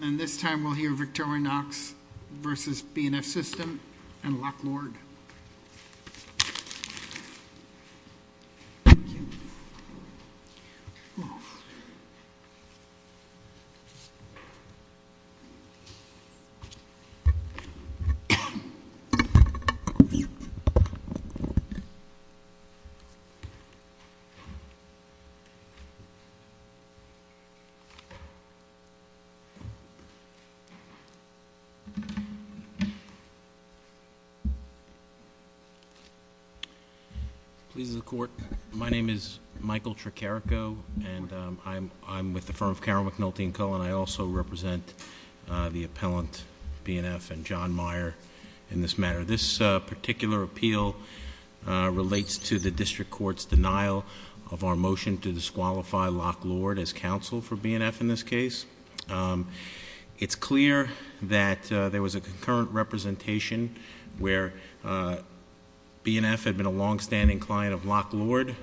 and this time we'll hear Victorinox versus B&F System and Locklord. Please the court. My name is Michael Tricarico and I'm with the firm of Carol McNulty and Co. and I also represent the appellant B&F and John Meyer in this matter. This particular appeal relates to the district court's denial of our motion to disqualify Locklord as counsel for B&F in this case. It's clear that there was a concurrent representation where B&F had been a long-standing client of Locklord.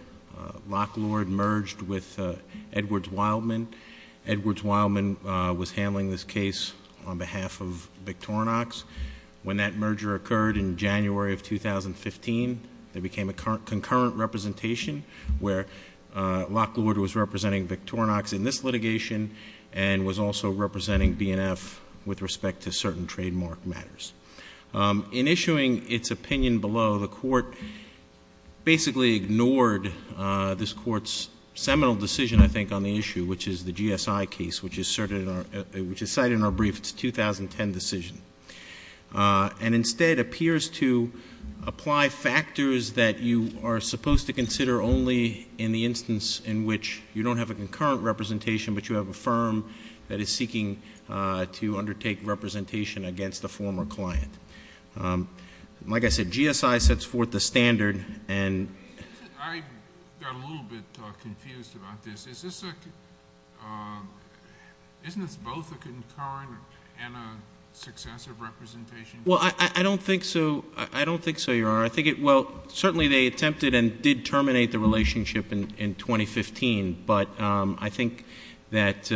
Locklord merged with Edwards Wildman. Edwards Wildman was handling this case on behalf of Victorinox. When that merger occurred in January of 2015, there became a concurrent representation where Locklord was representing Victorinox in this litigation and was also representing B&F with respect to certain trademark matters. In issuing its opinion below, the court basically ignored this court's seminal decision, I think, on the issue, which is the GSI case, which is cited in our brief, it's a 2010 decision, and instead appears to apply factors that you are supposed to consider only in the instance in which you don't have a concurrent representation but you have a firm that is seeking to undertake representation against a former client. Like I said, GSI sets forth the standard and... I got a little bit confused about this. Isn't this both a concurrent and a successive representation? Well, I don't think so. I don't think so, Your Honor. I think it... Well, certainly they attempted and did terminate the relationship in 2015, but I think that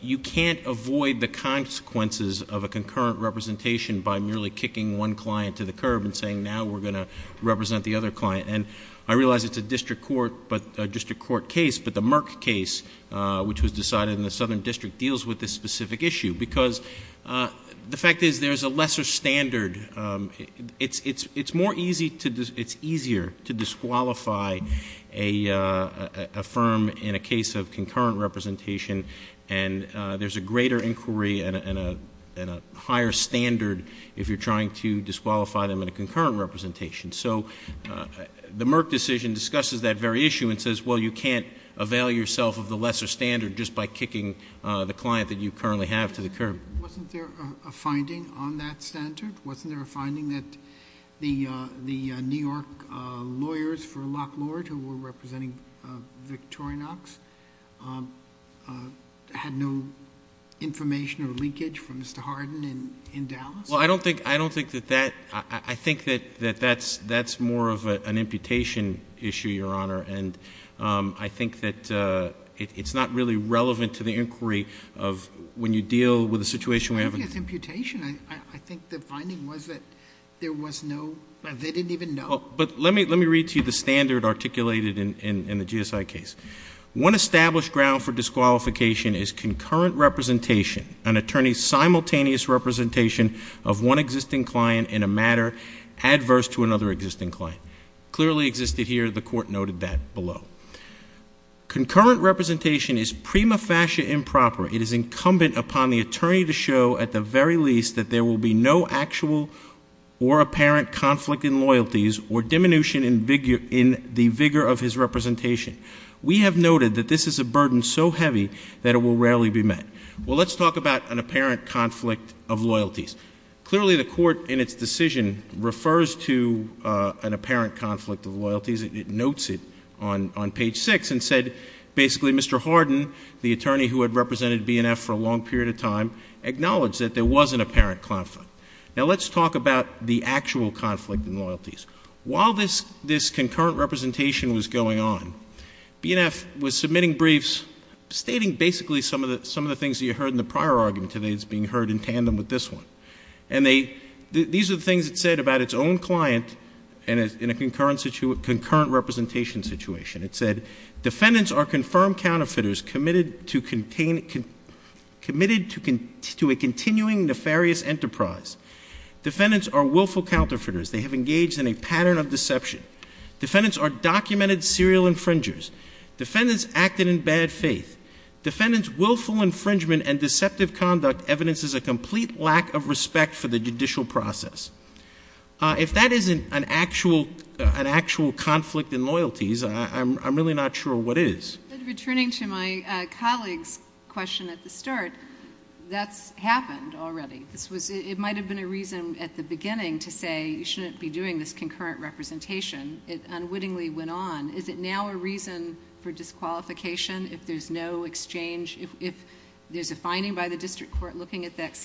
you can't avoid the consequences of a concurrent representation by merely kicking one client to the curb and saying, now we're going to represent the other client. And I realize it's a district court case, but the Merck case, which was decided in the Southern District, deals with this specific issue, because the fact is there's a lesser standard. It's more easy to... It's easier to disqualify a firm in a case of concurrent representation, and there's a greater inquiry and a higher standard if you're trying to disqualify them in a concurrent representation. So the Merck decision discusses that very issue and says, well, you can't avail yourself of the lesser standard just by kicking the client that you currently have to the curb. Wasn't there a finding on that standard? Wasn't there a finding that the New York lawyers for Lock Lord, who were representing Victorinox, had no information or leakage from Mr. Hardin in Dallas? Well, I don't think that that... I think that that's more of an imputation issue, Your Honor, and I think that it's not really relevant to the inquiry of when you deal with a situation where you have... I think it's imputation. I think the finding was that there was no... They didn't even know. But let me read to you the standard articulated in the GSI case. One established ground for disqualification is concurrent representation, an attorney's simultaneous representation of one existing client in a matter adverse to another existing client. Clearly existed here. The court noted that below. Concurrent representation is prima facie improper. It is incumbent upon the attorney to show at the very least that there will be no actual or apparent conflict in loyalties or diminution in the vigor of his representation. We have noted that this is a burden so heavy that it will rarely be met. Well, let's talk about an apparent conflict of loyalties. Clearly the court in its decision refers to an apparent conflict of loyalties. It notes it on page six and said basically Mr. Hardin, the attorney who had represented BNF for a long period of time, acknowledged that there was an apparent conflict. Now let's talk about the actual conflict in loyalties. While this concurrent representation was going on, BNF was submitting briefs stating basically some of the things that you heard in the prior argument today that's being heard in tandem with this one. And these are the things it said about its own client in a concurrent representation situation. It said defendants are confirmed counterfeiters committed to a continuing nefarious enterprise. Defendants are willful counterfeiters. They have engaged in a pattern of deception. Defendants are documented serial infringers. Defendants acted in bad faith. Defendants' willful infringement and deceptive conduct evidences a complete lack of respect for the judicial process. If that isn't an actual conflict in loyalties, I'm really not sure what is. Returning to my colleague's question at the start, that's happened already. It might have been a reason at the beginning to say you shouldn't be doing this concurrent representation. It unwittingly went on. Is it now a reason for disqualification if there's no exchange, if there's a finding by the district court looking at that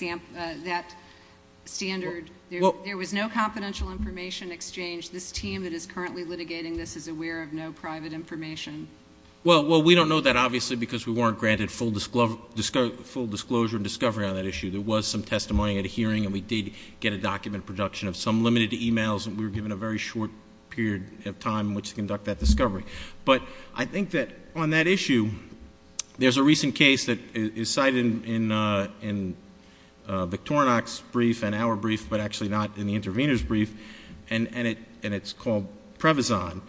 standard? There was no confidential information exchange. This team that is currently litigating this is aware of no private information. Well, we don't know that obviously because we weren't granted full disclosure and discovery on that issue. There was some testimony at a hearing and we did get a document production of some limited emails and we were given a very short period of time in which to conduct that discovery. But I think that on that issue, there's a recent case that is cited in Victorinox brief and our brief, but actually not in the intervener's brief, and it's called Prevazon.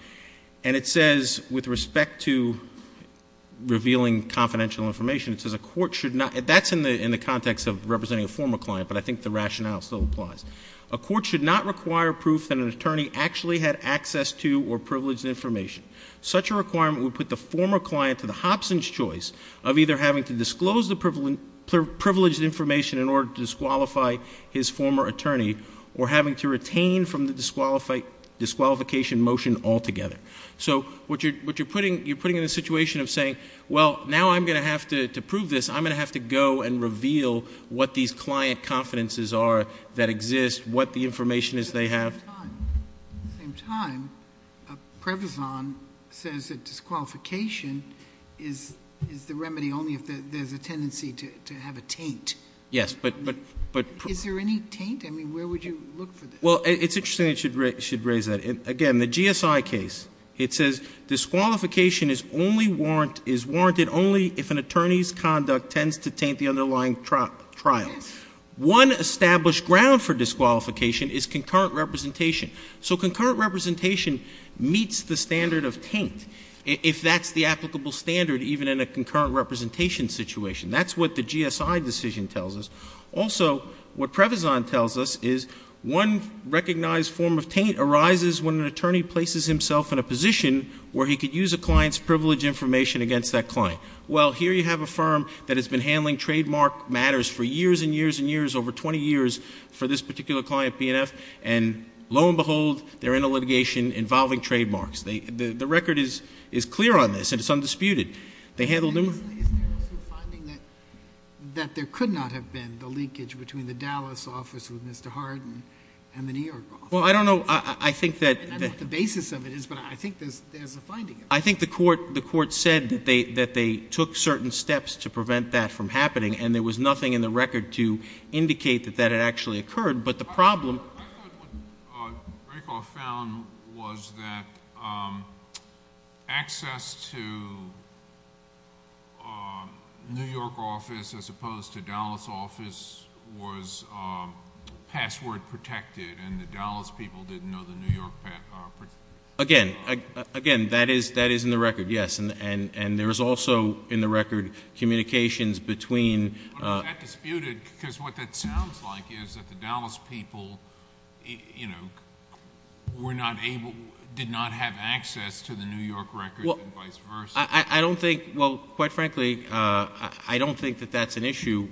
And it says with respect to revealing confidential information, it says a court should not, that's in the context of representing a former client, but I think the rationale still applies. A court should not require proof that an attorney actually had access to or privileged information. Such a requirement would put the former client to the Hobson's choice of either having to disclose the privileged information in order to disqualify his former attorney, or having to retain from the disqualification motion altogether. So what you're putting in a situation of saying, well, now I'm going to have to prove this. I'm going to have to go and reveal what these client confidences are that exist, what the information is they have. At the same time, Prevazon says that disqualification is the remedy only if there's a tendency to have a taint. Yes, but- Is there any taint? I mean, where would you look for this? Well, it's interesting that you should raise that. Again, the GSI case, it says disqualification is warranted only if an attorney's conduct tends to taint the underlying trial. One established ground for disqualification is concurrent representation. So concurrent representation meets the standard of taint, if that's the applicable standard even in a concurrent representation situation. That's what the GSI decision tells us. Also, what Prevazon tells us is one recognized form of taint arises when an attorney places himself in a position where he could use a client's privilege information against that client. Well, here you have a firm that has been handling trademark matters for years and years and years, over 20 years for this particular client, BNF. And lo and behold, they're in a litigation involving trademarks. The record is clear on this, and it's undisputed. They handled numerous- Is there also a finding that there could not have been the leakage between the Dallas office with Mr. Hardin and the New York office? Well, I don't know, I think that- I don't know what the basis of it is, but I think there's a finding. I think the court said that they took certain steps to prevent that from happening, and there was nothing in the record to indicate that that had actually occurred. But the problem- New York office, as opposed to Dallas office, was password protected, and the Dallas people didn't know the New York- Again, that is in the record, yes, and there is also, in the record, communications between- But was that disputed? because what that sounds like is that the Dallas people were not able, did not have access to the New York record, and vice versa. I don't think, well, quite frankly, I don't think that that's an issue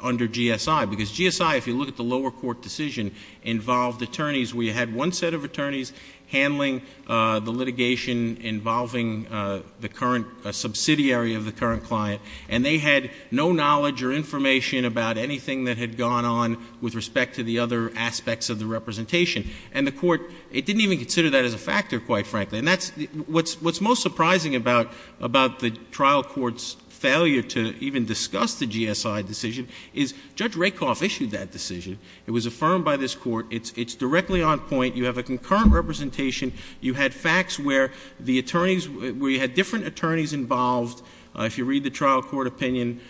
under GSI. Because GSI, if you look at the lower court decision, involved attorneys. We had one set of attorneys handling the litigation involving the current subsidiary of the current client. And they had no knowledge or information about anything that had gone on with respect to the other aspects of the representation. And the court, it didn't even consider that as a factor, quite frankly. And that's, what's most surprising about the trial court's failure to even discuss the GSI decision is, Judge Rakoff issued that decision, it was affirmed by this court, it's directly on point, you have a concurrent representation. You had facts where the attorneys, where you had different attorneys involved, if you read the trial court opinion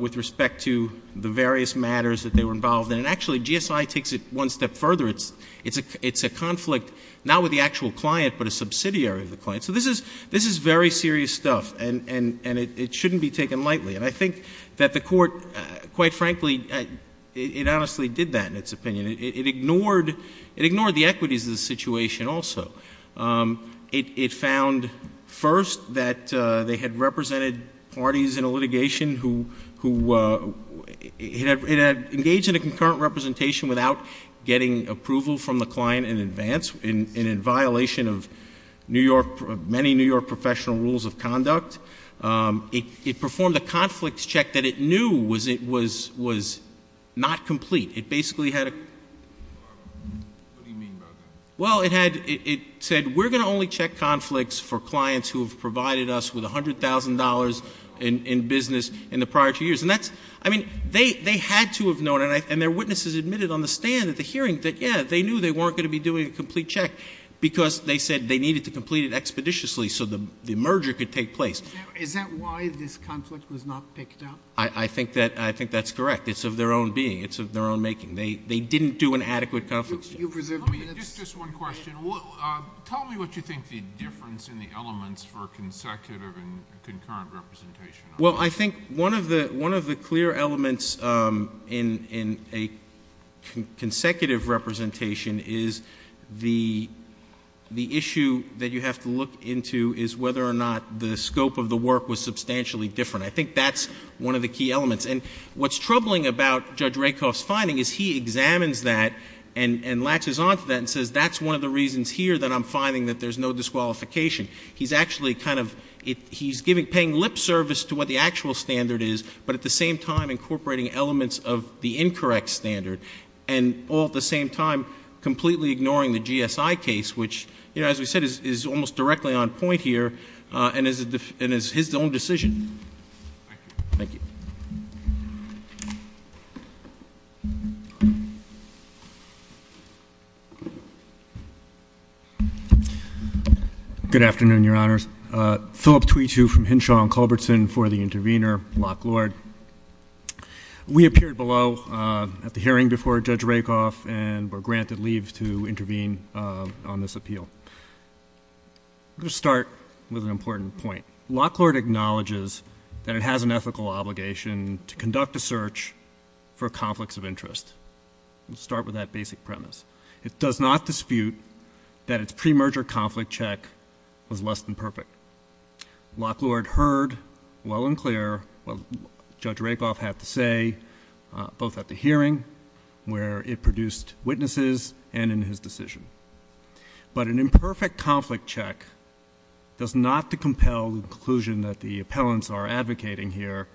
with respect to the various matters that they were involved in. And actually, GSI takes it one step further. It's a conflict, not with the actual client, but a subsidiary of the client. So this is very serious stuff, and it shouldn't be taken lightly. And I think that the court, quite frankly, it honestly did that in its opinion. It ignored the equities of the situation also. It found, first, that they had represented parties in a litigation who had engaged in a concurrent representation without getting approval from the client in advance, and in violation of many New York professional rules of conduct. It performed a conflicts check that it knew was not complete. It basically had a- What do you mean by that? Well, it said, we're going to only check conflicts for clients who have provided us with $100,000 in business in the prior two years. And that's, I mean, they had to have known, and their witnesses admitted on the stand at the hearing, that yeah, they knew they weren't going to be doing a complete check because they said they needed to complete it expeditiously so the merger could take place. Is that why this conflict was not picked up? I think that's correct. It's of their own being. They didn't do an adequate conflicts check. You presume that's- Just one question. Tell me what you think the difference in the elements for consecutive and concurrent representation are. Well, I think one of the clear elements in a consecutive representation is the issue that you have to look into is whether or not the scope of the work was substantially different. I think that's one of the key elements. And what's troubling about Judge Rakoff's finding is he examines that and latches on to that and says that's one of the reasons here that I'm finding that there's no disqualification. He's actually kind of, he's paying lip service to what the actual standard is, but at the same time incorporating elements of the incorrect standard. And all at the same time, completely ignoring the GSI case, which as we said, is almost directly on point here and is his own decision. Thank you. Thank you. Good afternoon, your honors. Philip Tweetu from Hinshaw and Culbertson for the intervener, Locke Lord. We appeared below at the hearing before Judge Rakoff and were granted leave to intervene on this appeal. I'm going to start with an important point. Locke Lord acknowledges that it has an ethical obligation to conduct a search for conflicts of interest. Let's start with that basic premise. It does not dispute that its pre-merger conflict check was less than perfect. Locke Lord heard well and clear what Judge Rakoff had to say, both at the hearing where it produced witnesses and in his decision. But an imperfect conflict check does not to compel the conclusion that the appellants are advocating here,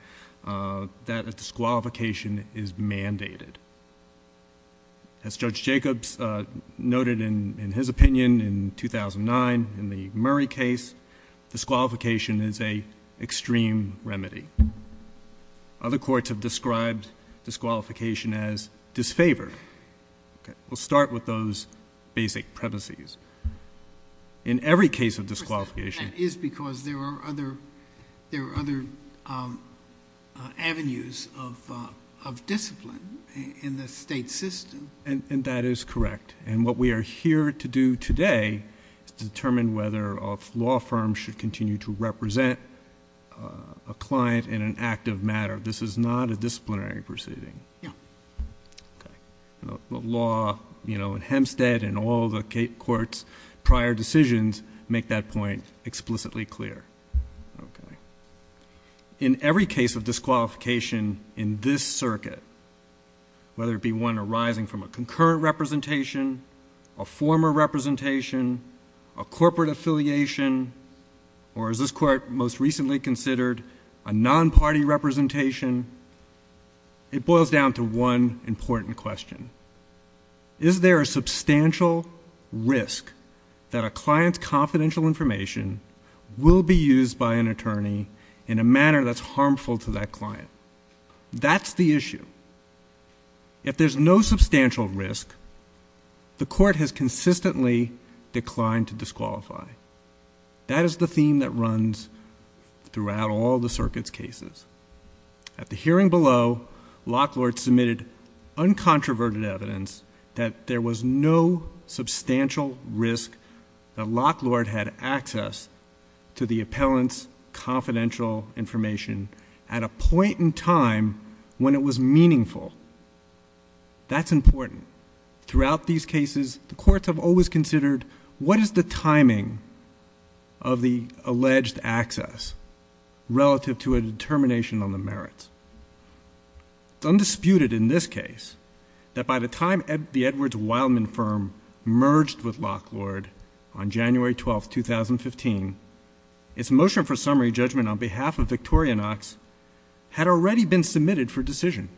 that a disqualification is mandated. As Judge Jacobs noted in his opinion in 2009 in the Murray case, disqualification is a extreme remedy. Other courts have described disqualification as disfavored. Okay, we'll start with those basic premises. In every case of disqualification- That is because there are other avenues of discipline in the state system. And that is correct. And what we are here to do today is to determine whether a law firm should continue to represent a client in an active matter. This is not a disciplinary proceeding. Yeah. The law in Hempstead and all the court's prior decisions make that point explicitly clear. In every case of disqualification in this circuit, whether it be one arising from a concurrent representation, a former representation, a corporate affiliation, or as this court most recently considered, a non-party representation, it boils down to one important question. Is there a substantial risk that a client's confidential information will be used by an attorney in a manner that's harmful to that client? That's the issue. If there's no substantial risk, the court has consistently declined to disqualify. At the hearing below, Lock Lord submitted uncontroverted evidence that there was no substantial risk that Lock Lord had access to the appellant's confidential information at a point in time when it was meaningful. That's important. Throughout these cases, the courts have always considered what is the timing of the alleged access relative to a determination on the merits. It's undisputed in this case that by the time the Edwards-Wildman firm merged with Lock Lord on January 12th, 2015, its motion for summary judgment on behalf of Victoria Knox had already been submitted for decision.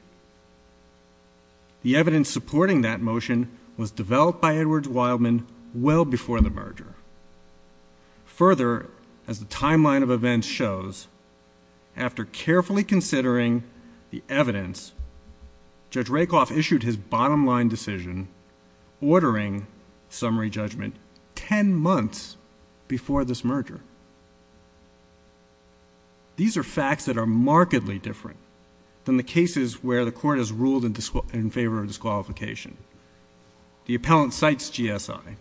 The evidence supporting that motion was developed by Edwards-Wildman well before the merger. Further, as the timeline of events shows, after carefully considering the evidence, Judge Rakoff issued his bottom line decision, ordering summary judgment 10 months before this merger. These are facts that are markedly different than the cases where the court has ruled in favor of disqualification. The appellant cites GSI,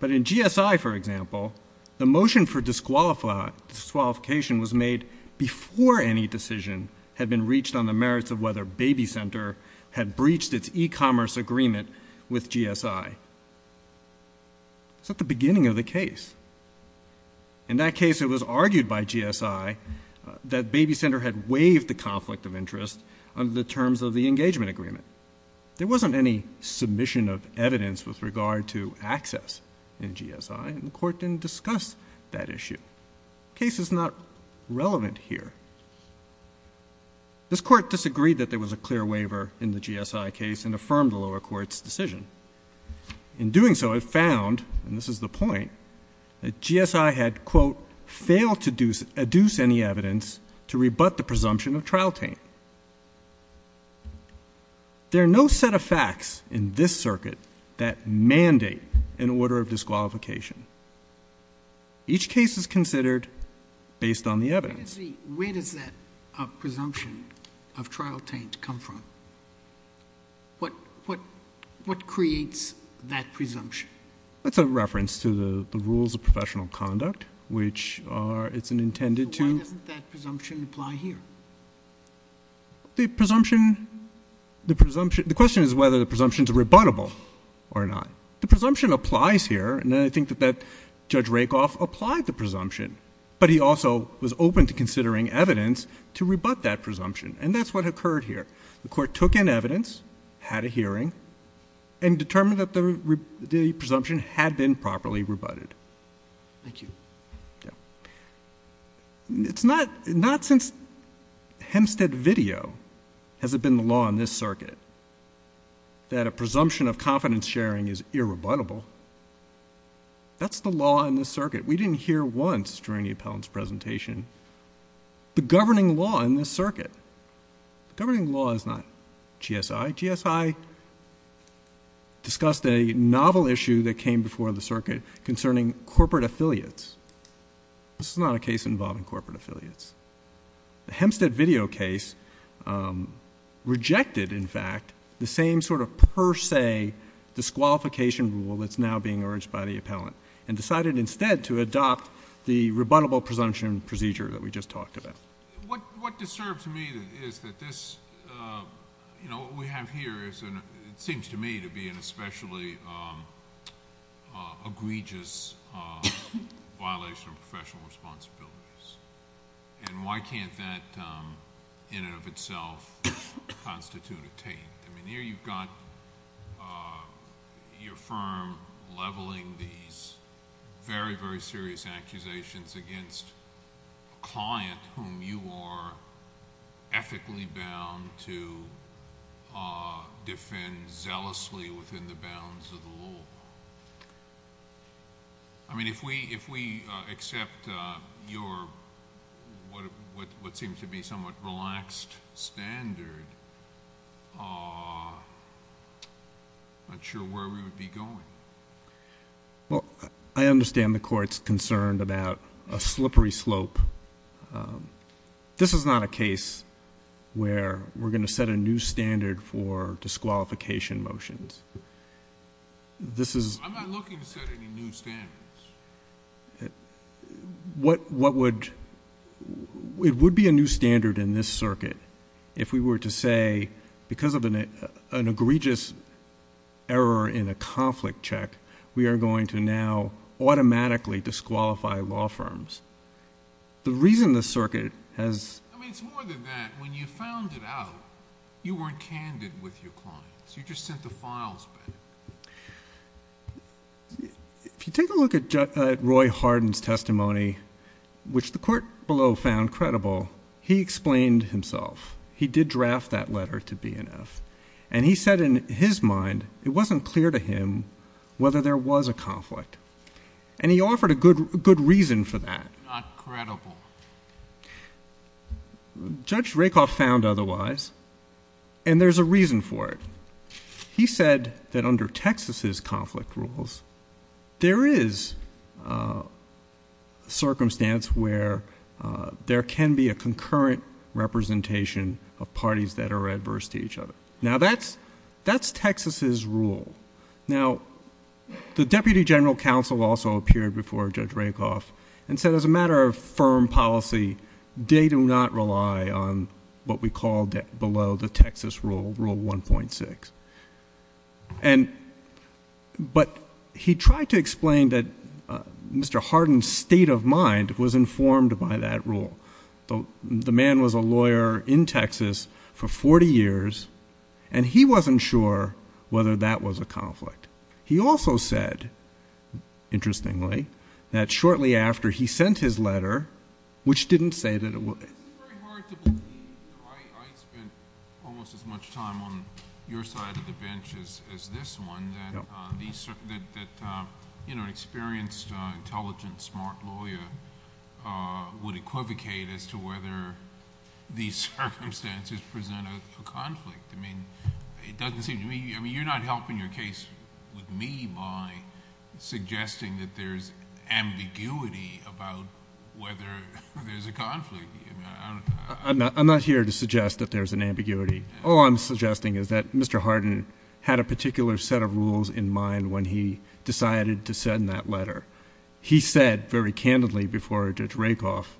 but in GSI, for example, the motion for disqualification was made before any decision had been reached on the merits of whether Baby Center had breached its e-commerce agreement with GSI. It's at the beginning of the case. In that case, it was argued by GSI that Baby Center had waived the conflict of interest under the terms of the engagement agreement. There wasn't any submission of evidence with regard to access in GSI, and the court didn't discuss that issue. Case is not relevant here. This court disagreed that there was a clear waiver in the GSI case and affirmed the lower court's decision. In doing so, it found, and this is the point, that GSI had, quote, failed to adduce any evidence to rebut the presumption of trial tame. There are no set of facts in this circuit that mandate an order of disqualification. Each case is considered based on the evidence. Where does that presumption of trial tamed come from? What creates that presumption? That's a reference to the rules of professional conduct, which are, it's intended to. Why doesn't that presumption apply here? The presumption, the presumption, the question is whether the presumption's rebuttable or not. The presumption applies here, and I think that Judge Rakoff applied the presumption, but he also was open to considering evidence to rebut that presumption, and that's what occurred here. The court took in evidence, had a hearing, and determined that the presumption had been properly rebutted. Thank you. Yeah. It's not, not since Hempstead video has it been the law in this circuit that a presumption of confidence sharing is irrebuttable. That's the law in this circuit. We didn't hear once during the appellant's presentation the governing law in this circuit. Governing law is not GSI. GSI discussed a novel issue that came before the circuit concerning corporate affiliates. This is not a case involving corporate affiliates. The Hempstead video case rejected, in fact, the same sort of per se disqualification rule that's now being urged by the appellant, and decided instead to adopt the rebuttable presumption procedure that we just talked about. What disturbs me is that this, you know, what we have here is, it seems to me to be an especially egregious violation of professional responsibilities, and why can't that, in and of itself, constitute a taint? I mean, here you've got your firm leveling these very, very serious accusations against a client whom you are ethically bound to defend zealously within the bounds of the law. I mean, if we accept your, what seems to be somewhat relaxed standard, I'm not sure where we would be going. Well, I understand the court's concerned about a slippery slope. This is not a case where we're going to set a new standard for disqualification motions. I'm not looking to set any new standards. It would be a new standard in this circuit if we were to say, because of an egregious error in a conflict check, we are going to now automatically disqualify law firms. The reason the circuit has— I mean, it's more than that. When you found it out, you weren't candid with your clients. You just sent the files back. If you take a look at Roy Hardin's testimony, which the court below found credible, he explained himself. He did draft that letter to BNF, and he said in his mind it wasn't clear to him whether there was a conflict, and he offered a good reason for that. Not credible. Judge Rakoff found otherwise, and there's a reason for it. He said that under Texas's conflict rules, there is a circumstance where there can be a concurrent representation of parties that are adverse to each other. Now, that's Texas's rule. Now, the Deputy General Counsel also appeared before Judge Rakoff and said as a matter of firm policy, they do not rely on what we call below the Texas rule, Rule 1.6. But he tried to explain that Mr. Hardin's state of mind was informed by that rule. The man was a lawyer in Texas for 40 years, and he wasn't sure whether that was a conflict. He also said, interestingly, that shortly after he sent his letter, which didn't say that it was. It's very hard to believe. I spent almost as much time on your side of the bench as this one, that an experienced, intelligent, smart lawyer would equivocate as to whether these circumstances present a conflict. It doesn't seem to me... You're not helping your case with me by suggesting that there's ambiguity about whether there's a conflict. I'm not here to suggest that there's an ambiguity. All I'm suggesting is that Mr. Hardin had a particular set of rules in mind when he decided to send that letter. He said very candidly before Judge Rakoff,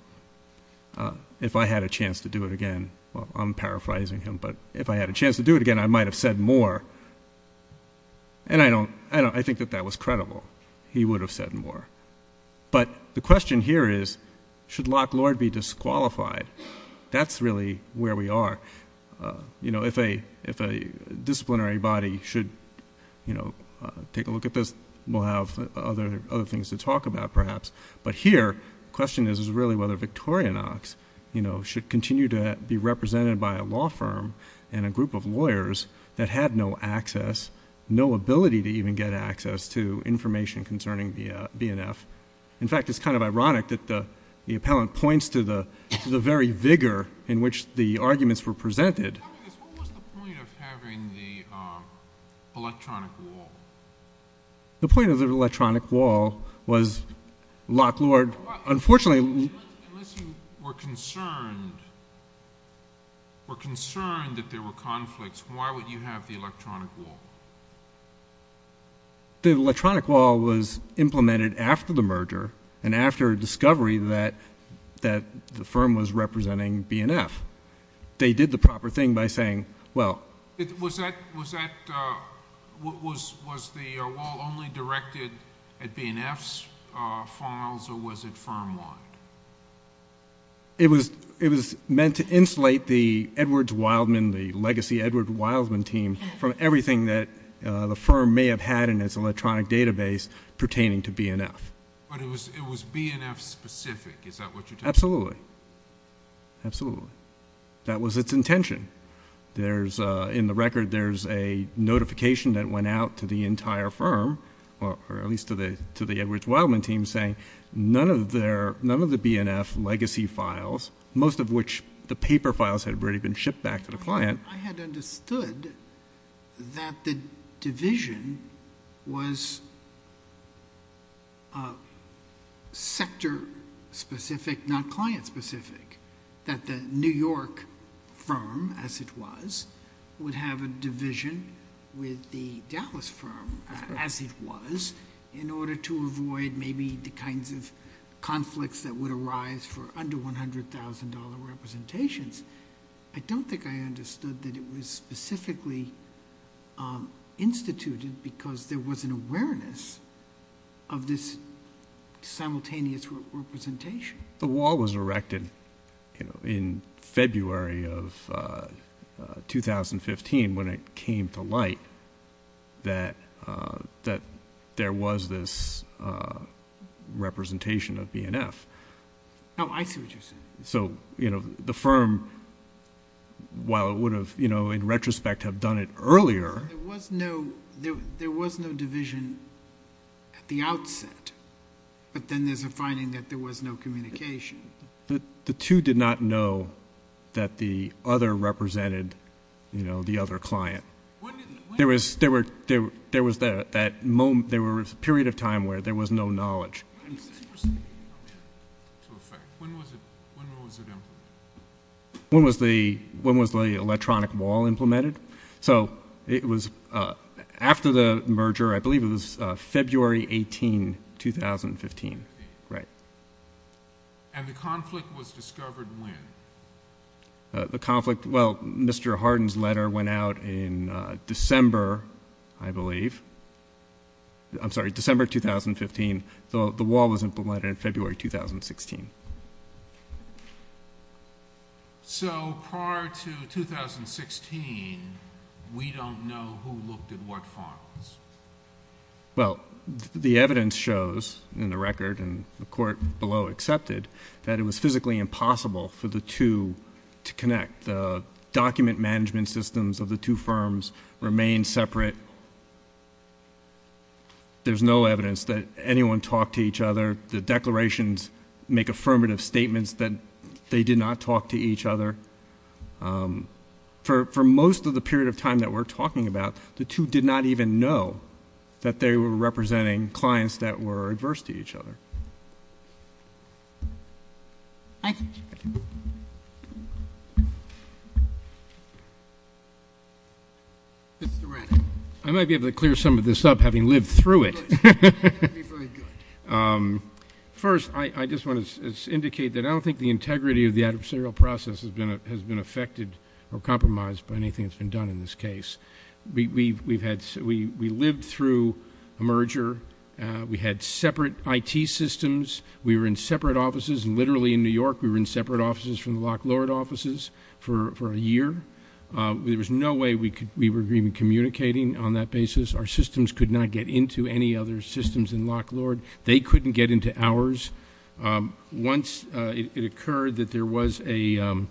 if I had a chance to do it again... Well, I'm paraphrasing him, but if I had a chance to do it again, I might have said more. And I think that that was credible. He would have said more. But the question here is, should Locke Lord be disqualified? That's really where we are. If a disciplinary body should take a look at this, we'll have other things to talk about, perhaps. But here, the question is really whether Victoria Knox should continue to be represented by a law firm and a group of lawyers that had no access, no ability to even get access to information concerning BNF. In fact, it's kind of ironic that the appellant points to the very vigor in which the arguments were presented. What was the point of having the electronic wall? The point of the electronic wall was Locke Lord, unfortunately... Unless you were concerned that there were conflicts, why would you have the electronic wall? The electronic wall was implemented after the merger and after a discovery that the firm was representing BNF. They did the proper thing by saying, well... Was the wall only directed at BNF's files, or was it firm-wide? It was meant to insulate the Edwards-Wildman, the legacy Edwards-Wildman team, from everything that the firm may have had in its electronic database pertaining to BNF. But it was BNF-specific. Is that what you're saying? Absolutely. Absolutely. That was its intention. In the record, there's a notification that went out to the entire firm, or at least to the Edwards-Wildman team, saying none of the BNF legacy files, most of which the paper files had already been shipped back to the client... I had understood that the division was sector-specific, not client-specific. That the New York firm, as it was, would have a division with the Dallas firm, as it was, in order to avoid maybe the kinds of conflicts that would arise for under $100,000 representations. I don't think I understood that it was specifically instituted because there was an awareness of this simultaneous representation. The wall was erected in February of 2015 when it came to light that there was this representation of BNF. Oh, I see what you're saying. So, you know, the firm, while it would have, you know, in retrospect, have done it earlier... The two did not know that the other represented, you know, the other client. There was that moment... there was a period of time where there was no knowledge. When was the electronic wall implemented? So, it was... after the merger, I believe it was February 18, 2015. Right. The conflict... well, Mr. Hardin's letter went out in December, I believe. I'm sorry, December 2015. The wall was implemented in February 2016. So, prior to 2016, we don't know who looked at what firms. Well, the evidence shows in the record and the court below accepted that it was physically impossible for the two to connect. The document management systems of the two firms remained separate. There's no evidence that anyone talked to each other. The declarations make affirmative statements that they did not talk to each other. For most of the period of time that we're talking about, the two did not even know that they were representing clients that were adverse to each other. I might be able to clear some of this up, having lived through it. That would be very good. First, I just want to indicate that I don't think the integrity of the adversarial process has been affected or compromised by anything that's been done in this case. We've had... we lived through a merger. We had separate IT systems. We were in separate offices. Literally, in New York, we were in separate offices from the Lock Lord offices for a year. There was no way we were even communicating on that basis. Our systems could not get into any other systems in Lock Lord. They couldn't get into ours. Once it occurred that there was an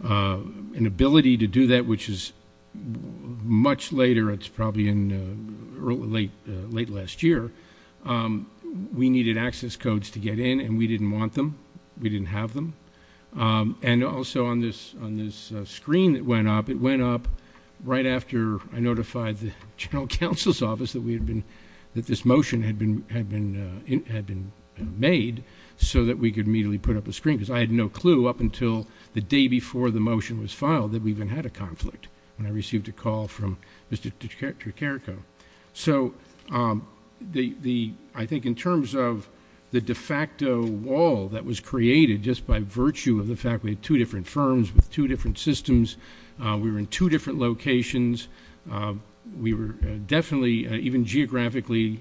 ability to do that, which is much later. It's probably late last year. We needed access codes to get in, and we didn't want them. We didn't have them. Also, on this screen that went up, it went up right after I notified the general counsel's office that this motion had been made, so that we could immediately put up a screen, because I had no clue, up until the day before the motion was filed, that we even had a conflict when I received a call from Mr. Tricharico. I think in terms of the de facto wall that was created just by virtue of the fact we had two different firms with two different systems, we were in two different locations, we were definitely even geographically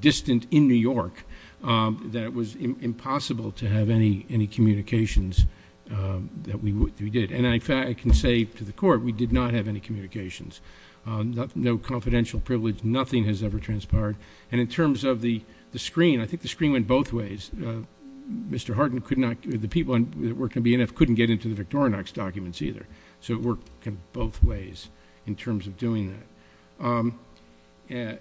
distant in New York, that it was impossible to have any communications that we did. I can say to the Court, we did not have any communications. No confidential privilege, nothing has ever transpired. In terms of the screen, I think the screen went both ways. Mr. Hardin, the people that were going to be in it, couldn't get into the Victorinox documents either, so it worked both ways in terms of doing that. I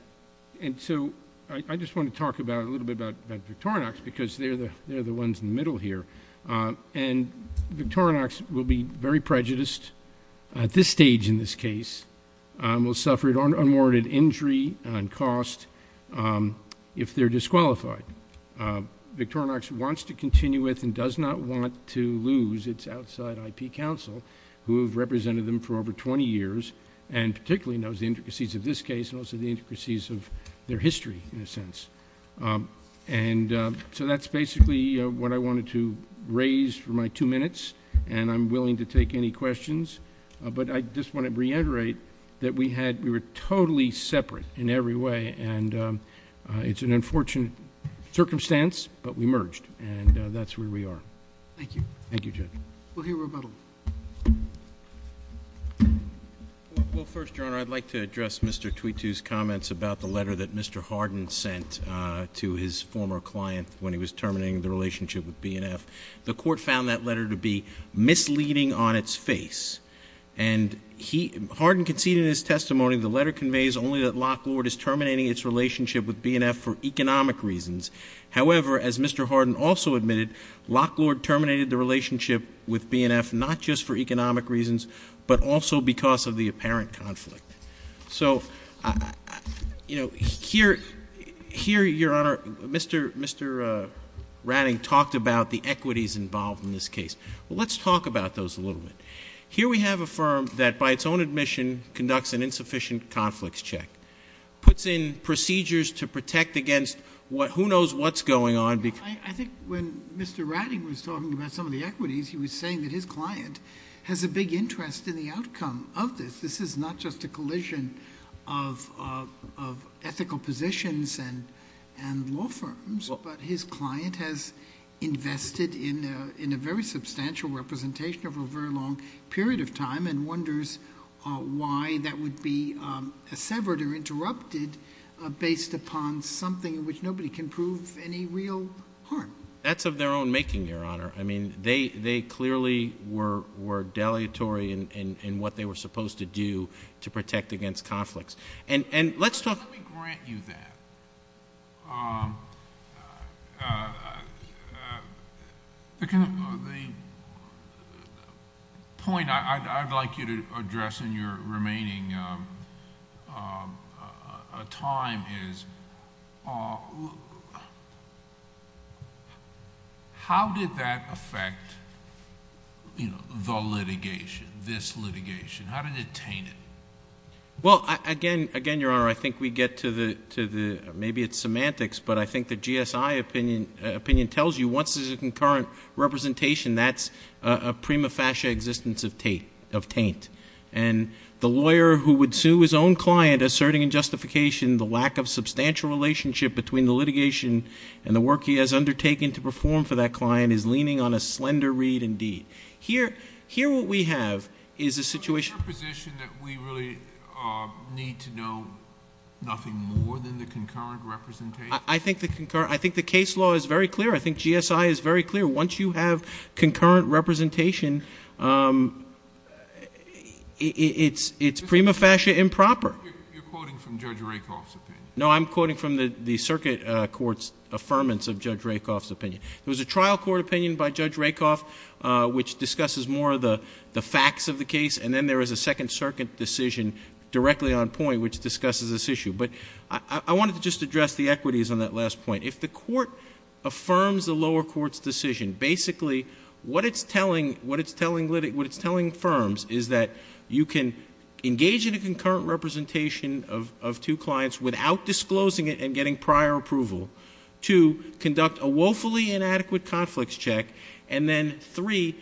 just want to talk a little bit about Victorinox, because they're the ones in the middle here. Victorinox will be very prejudiced at this stage in this case, will suffer an unwarranted injury and cost if they're disqualified. Victorinox wants to continue with and does not want to lose its outside IP counsel, who have represented them for over 20 years, and particularly knows the intricacies of this case, and also the intricacies of their history, in a sense. So that's basically what I wanted to raise for my two minutes, and I'm willing to take any questions. But I just want to reiterate that we were totally separate in every way, and it's an unfortunate circumstance, but we merged, and that's where we are. Thank you. Thank you, Judge. We'll hear rebuttal. Well, first, Your Honor, I'd like to address Mr. Twitu's comments about the letter that Mr. Hardin sent to his former client when he was terminating the relationship with BNF. The court found that letter to be misleading on its face, and Hardin conceded in his testimony the letter conveys only that Lock Lord is terminating its relationship with BNF for economic reasons. However, as Mr. Hardin also admitted, Lock Lord terminated the relationship with BNF not just for economic reasons, but also because of the apparent conflict. So, you know, here, Your Honor, Mr. Ratting talked about the equities involved in this case. Well, let's talk about those a little bit. Here we have a firm that, by its own admission, conducts an insufficient conflicts check, puts in procedures to protect against who knows what's going on. I think when Mr. Ratting was talking about some of the equities, he was saying that his client has a big interest in the outcome of this. This is not just a collision of ethical positions and law firms, but his client has invested in a very substantial representation over a very long period of time and wonders why that would be severed or interrupted based upon something in which nobody can prove any real harm. That's of their own making, Your Honor. I mean, they clearly were delegatory in what they were supposed to do to protect against conflicts. Let me grant you that. The point I'd like you to address in your remaining time is how did that affect the litigation, this litigation? How did it taint it? Well, again, Your Honor, I think we get to the, maybe it's semantics, but I think the GSI opinion tells you once there's a concurrent representation, that's a prima facie existence of taint. And the lawyer who would sue his own client asserting in justification the lack of substantial relationship between the litigation and the work he has undertaken to perform for that client is leaning on a slender read indeed. Here what we have is a situation. Is there a position that we really need to know nothing more than the concurrent representation? I think the case law is very clear. I think GSI is very clear. Once you have concurrent representation, it's prima facie improper. You're quoting from Judge Rakoff's opinion. No, I'm quoting from the circuit court's affirmance of Judge Rakoff's opinion. It was a trial court opinion by Judge Rakoff, which discusses more of the facts of the case, and then there is a second circuit decision directly on point, which discusses this issue. But I wanted to just address the equities on that last point. If the court affirms the lower court's decision, basically what it's telling firms is that you can engage in a concurrent representation of two clients without disclosing it and getting prior approval, two, conduct a woefully inadequate conflicts check, and then three,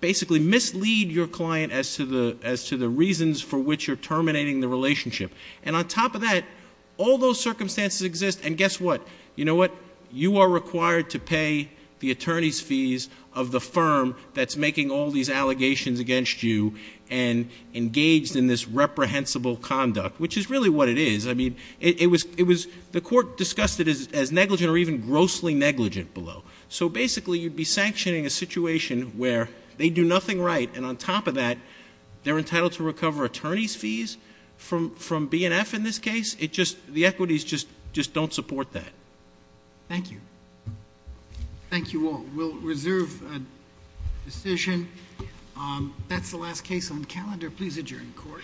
basically mislead your client as to the reasons for which you're terminating the relationship. And on top of that, all those circumstances exist, and guess what? You know what? You are required to pay the attorney's fees of the firm that's making all these allegations against you and engaged in this reprehensible conduct, which is really what it is. The court discussed it as negligent or even grossly negligent below. So basically, you'd be sanctioning a situation where they do nothing right, and on top of that, they're entitled to recover attorney's fees from BNF in this case? The equities just don't support that. Thank you. Thank you all. We'll reserve a decision. That's the last case on calendar. Please adjourn the court. Court is adjourned.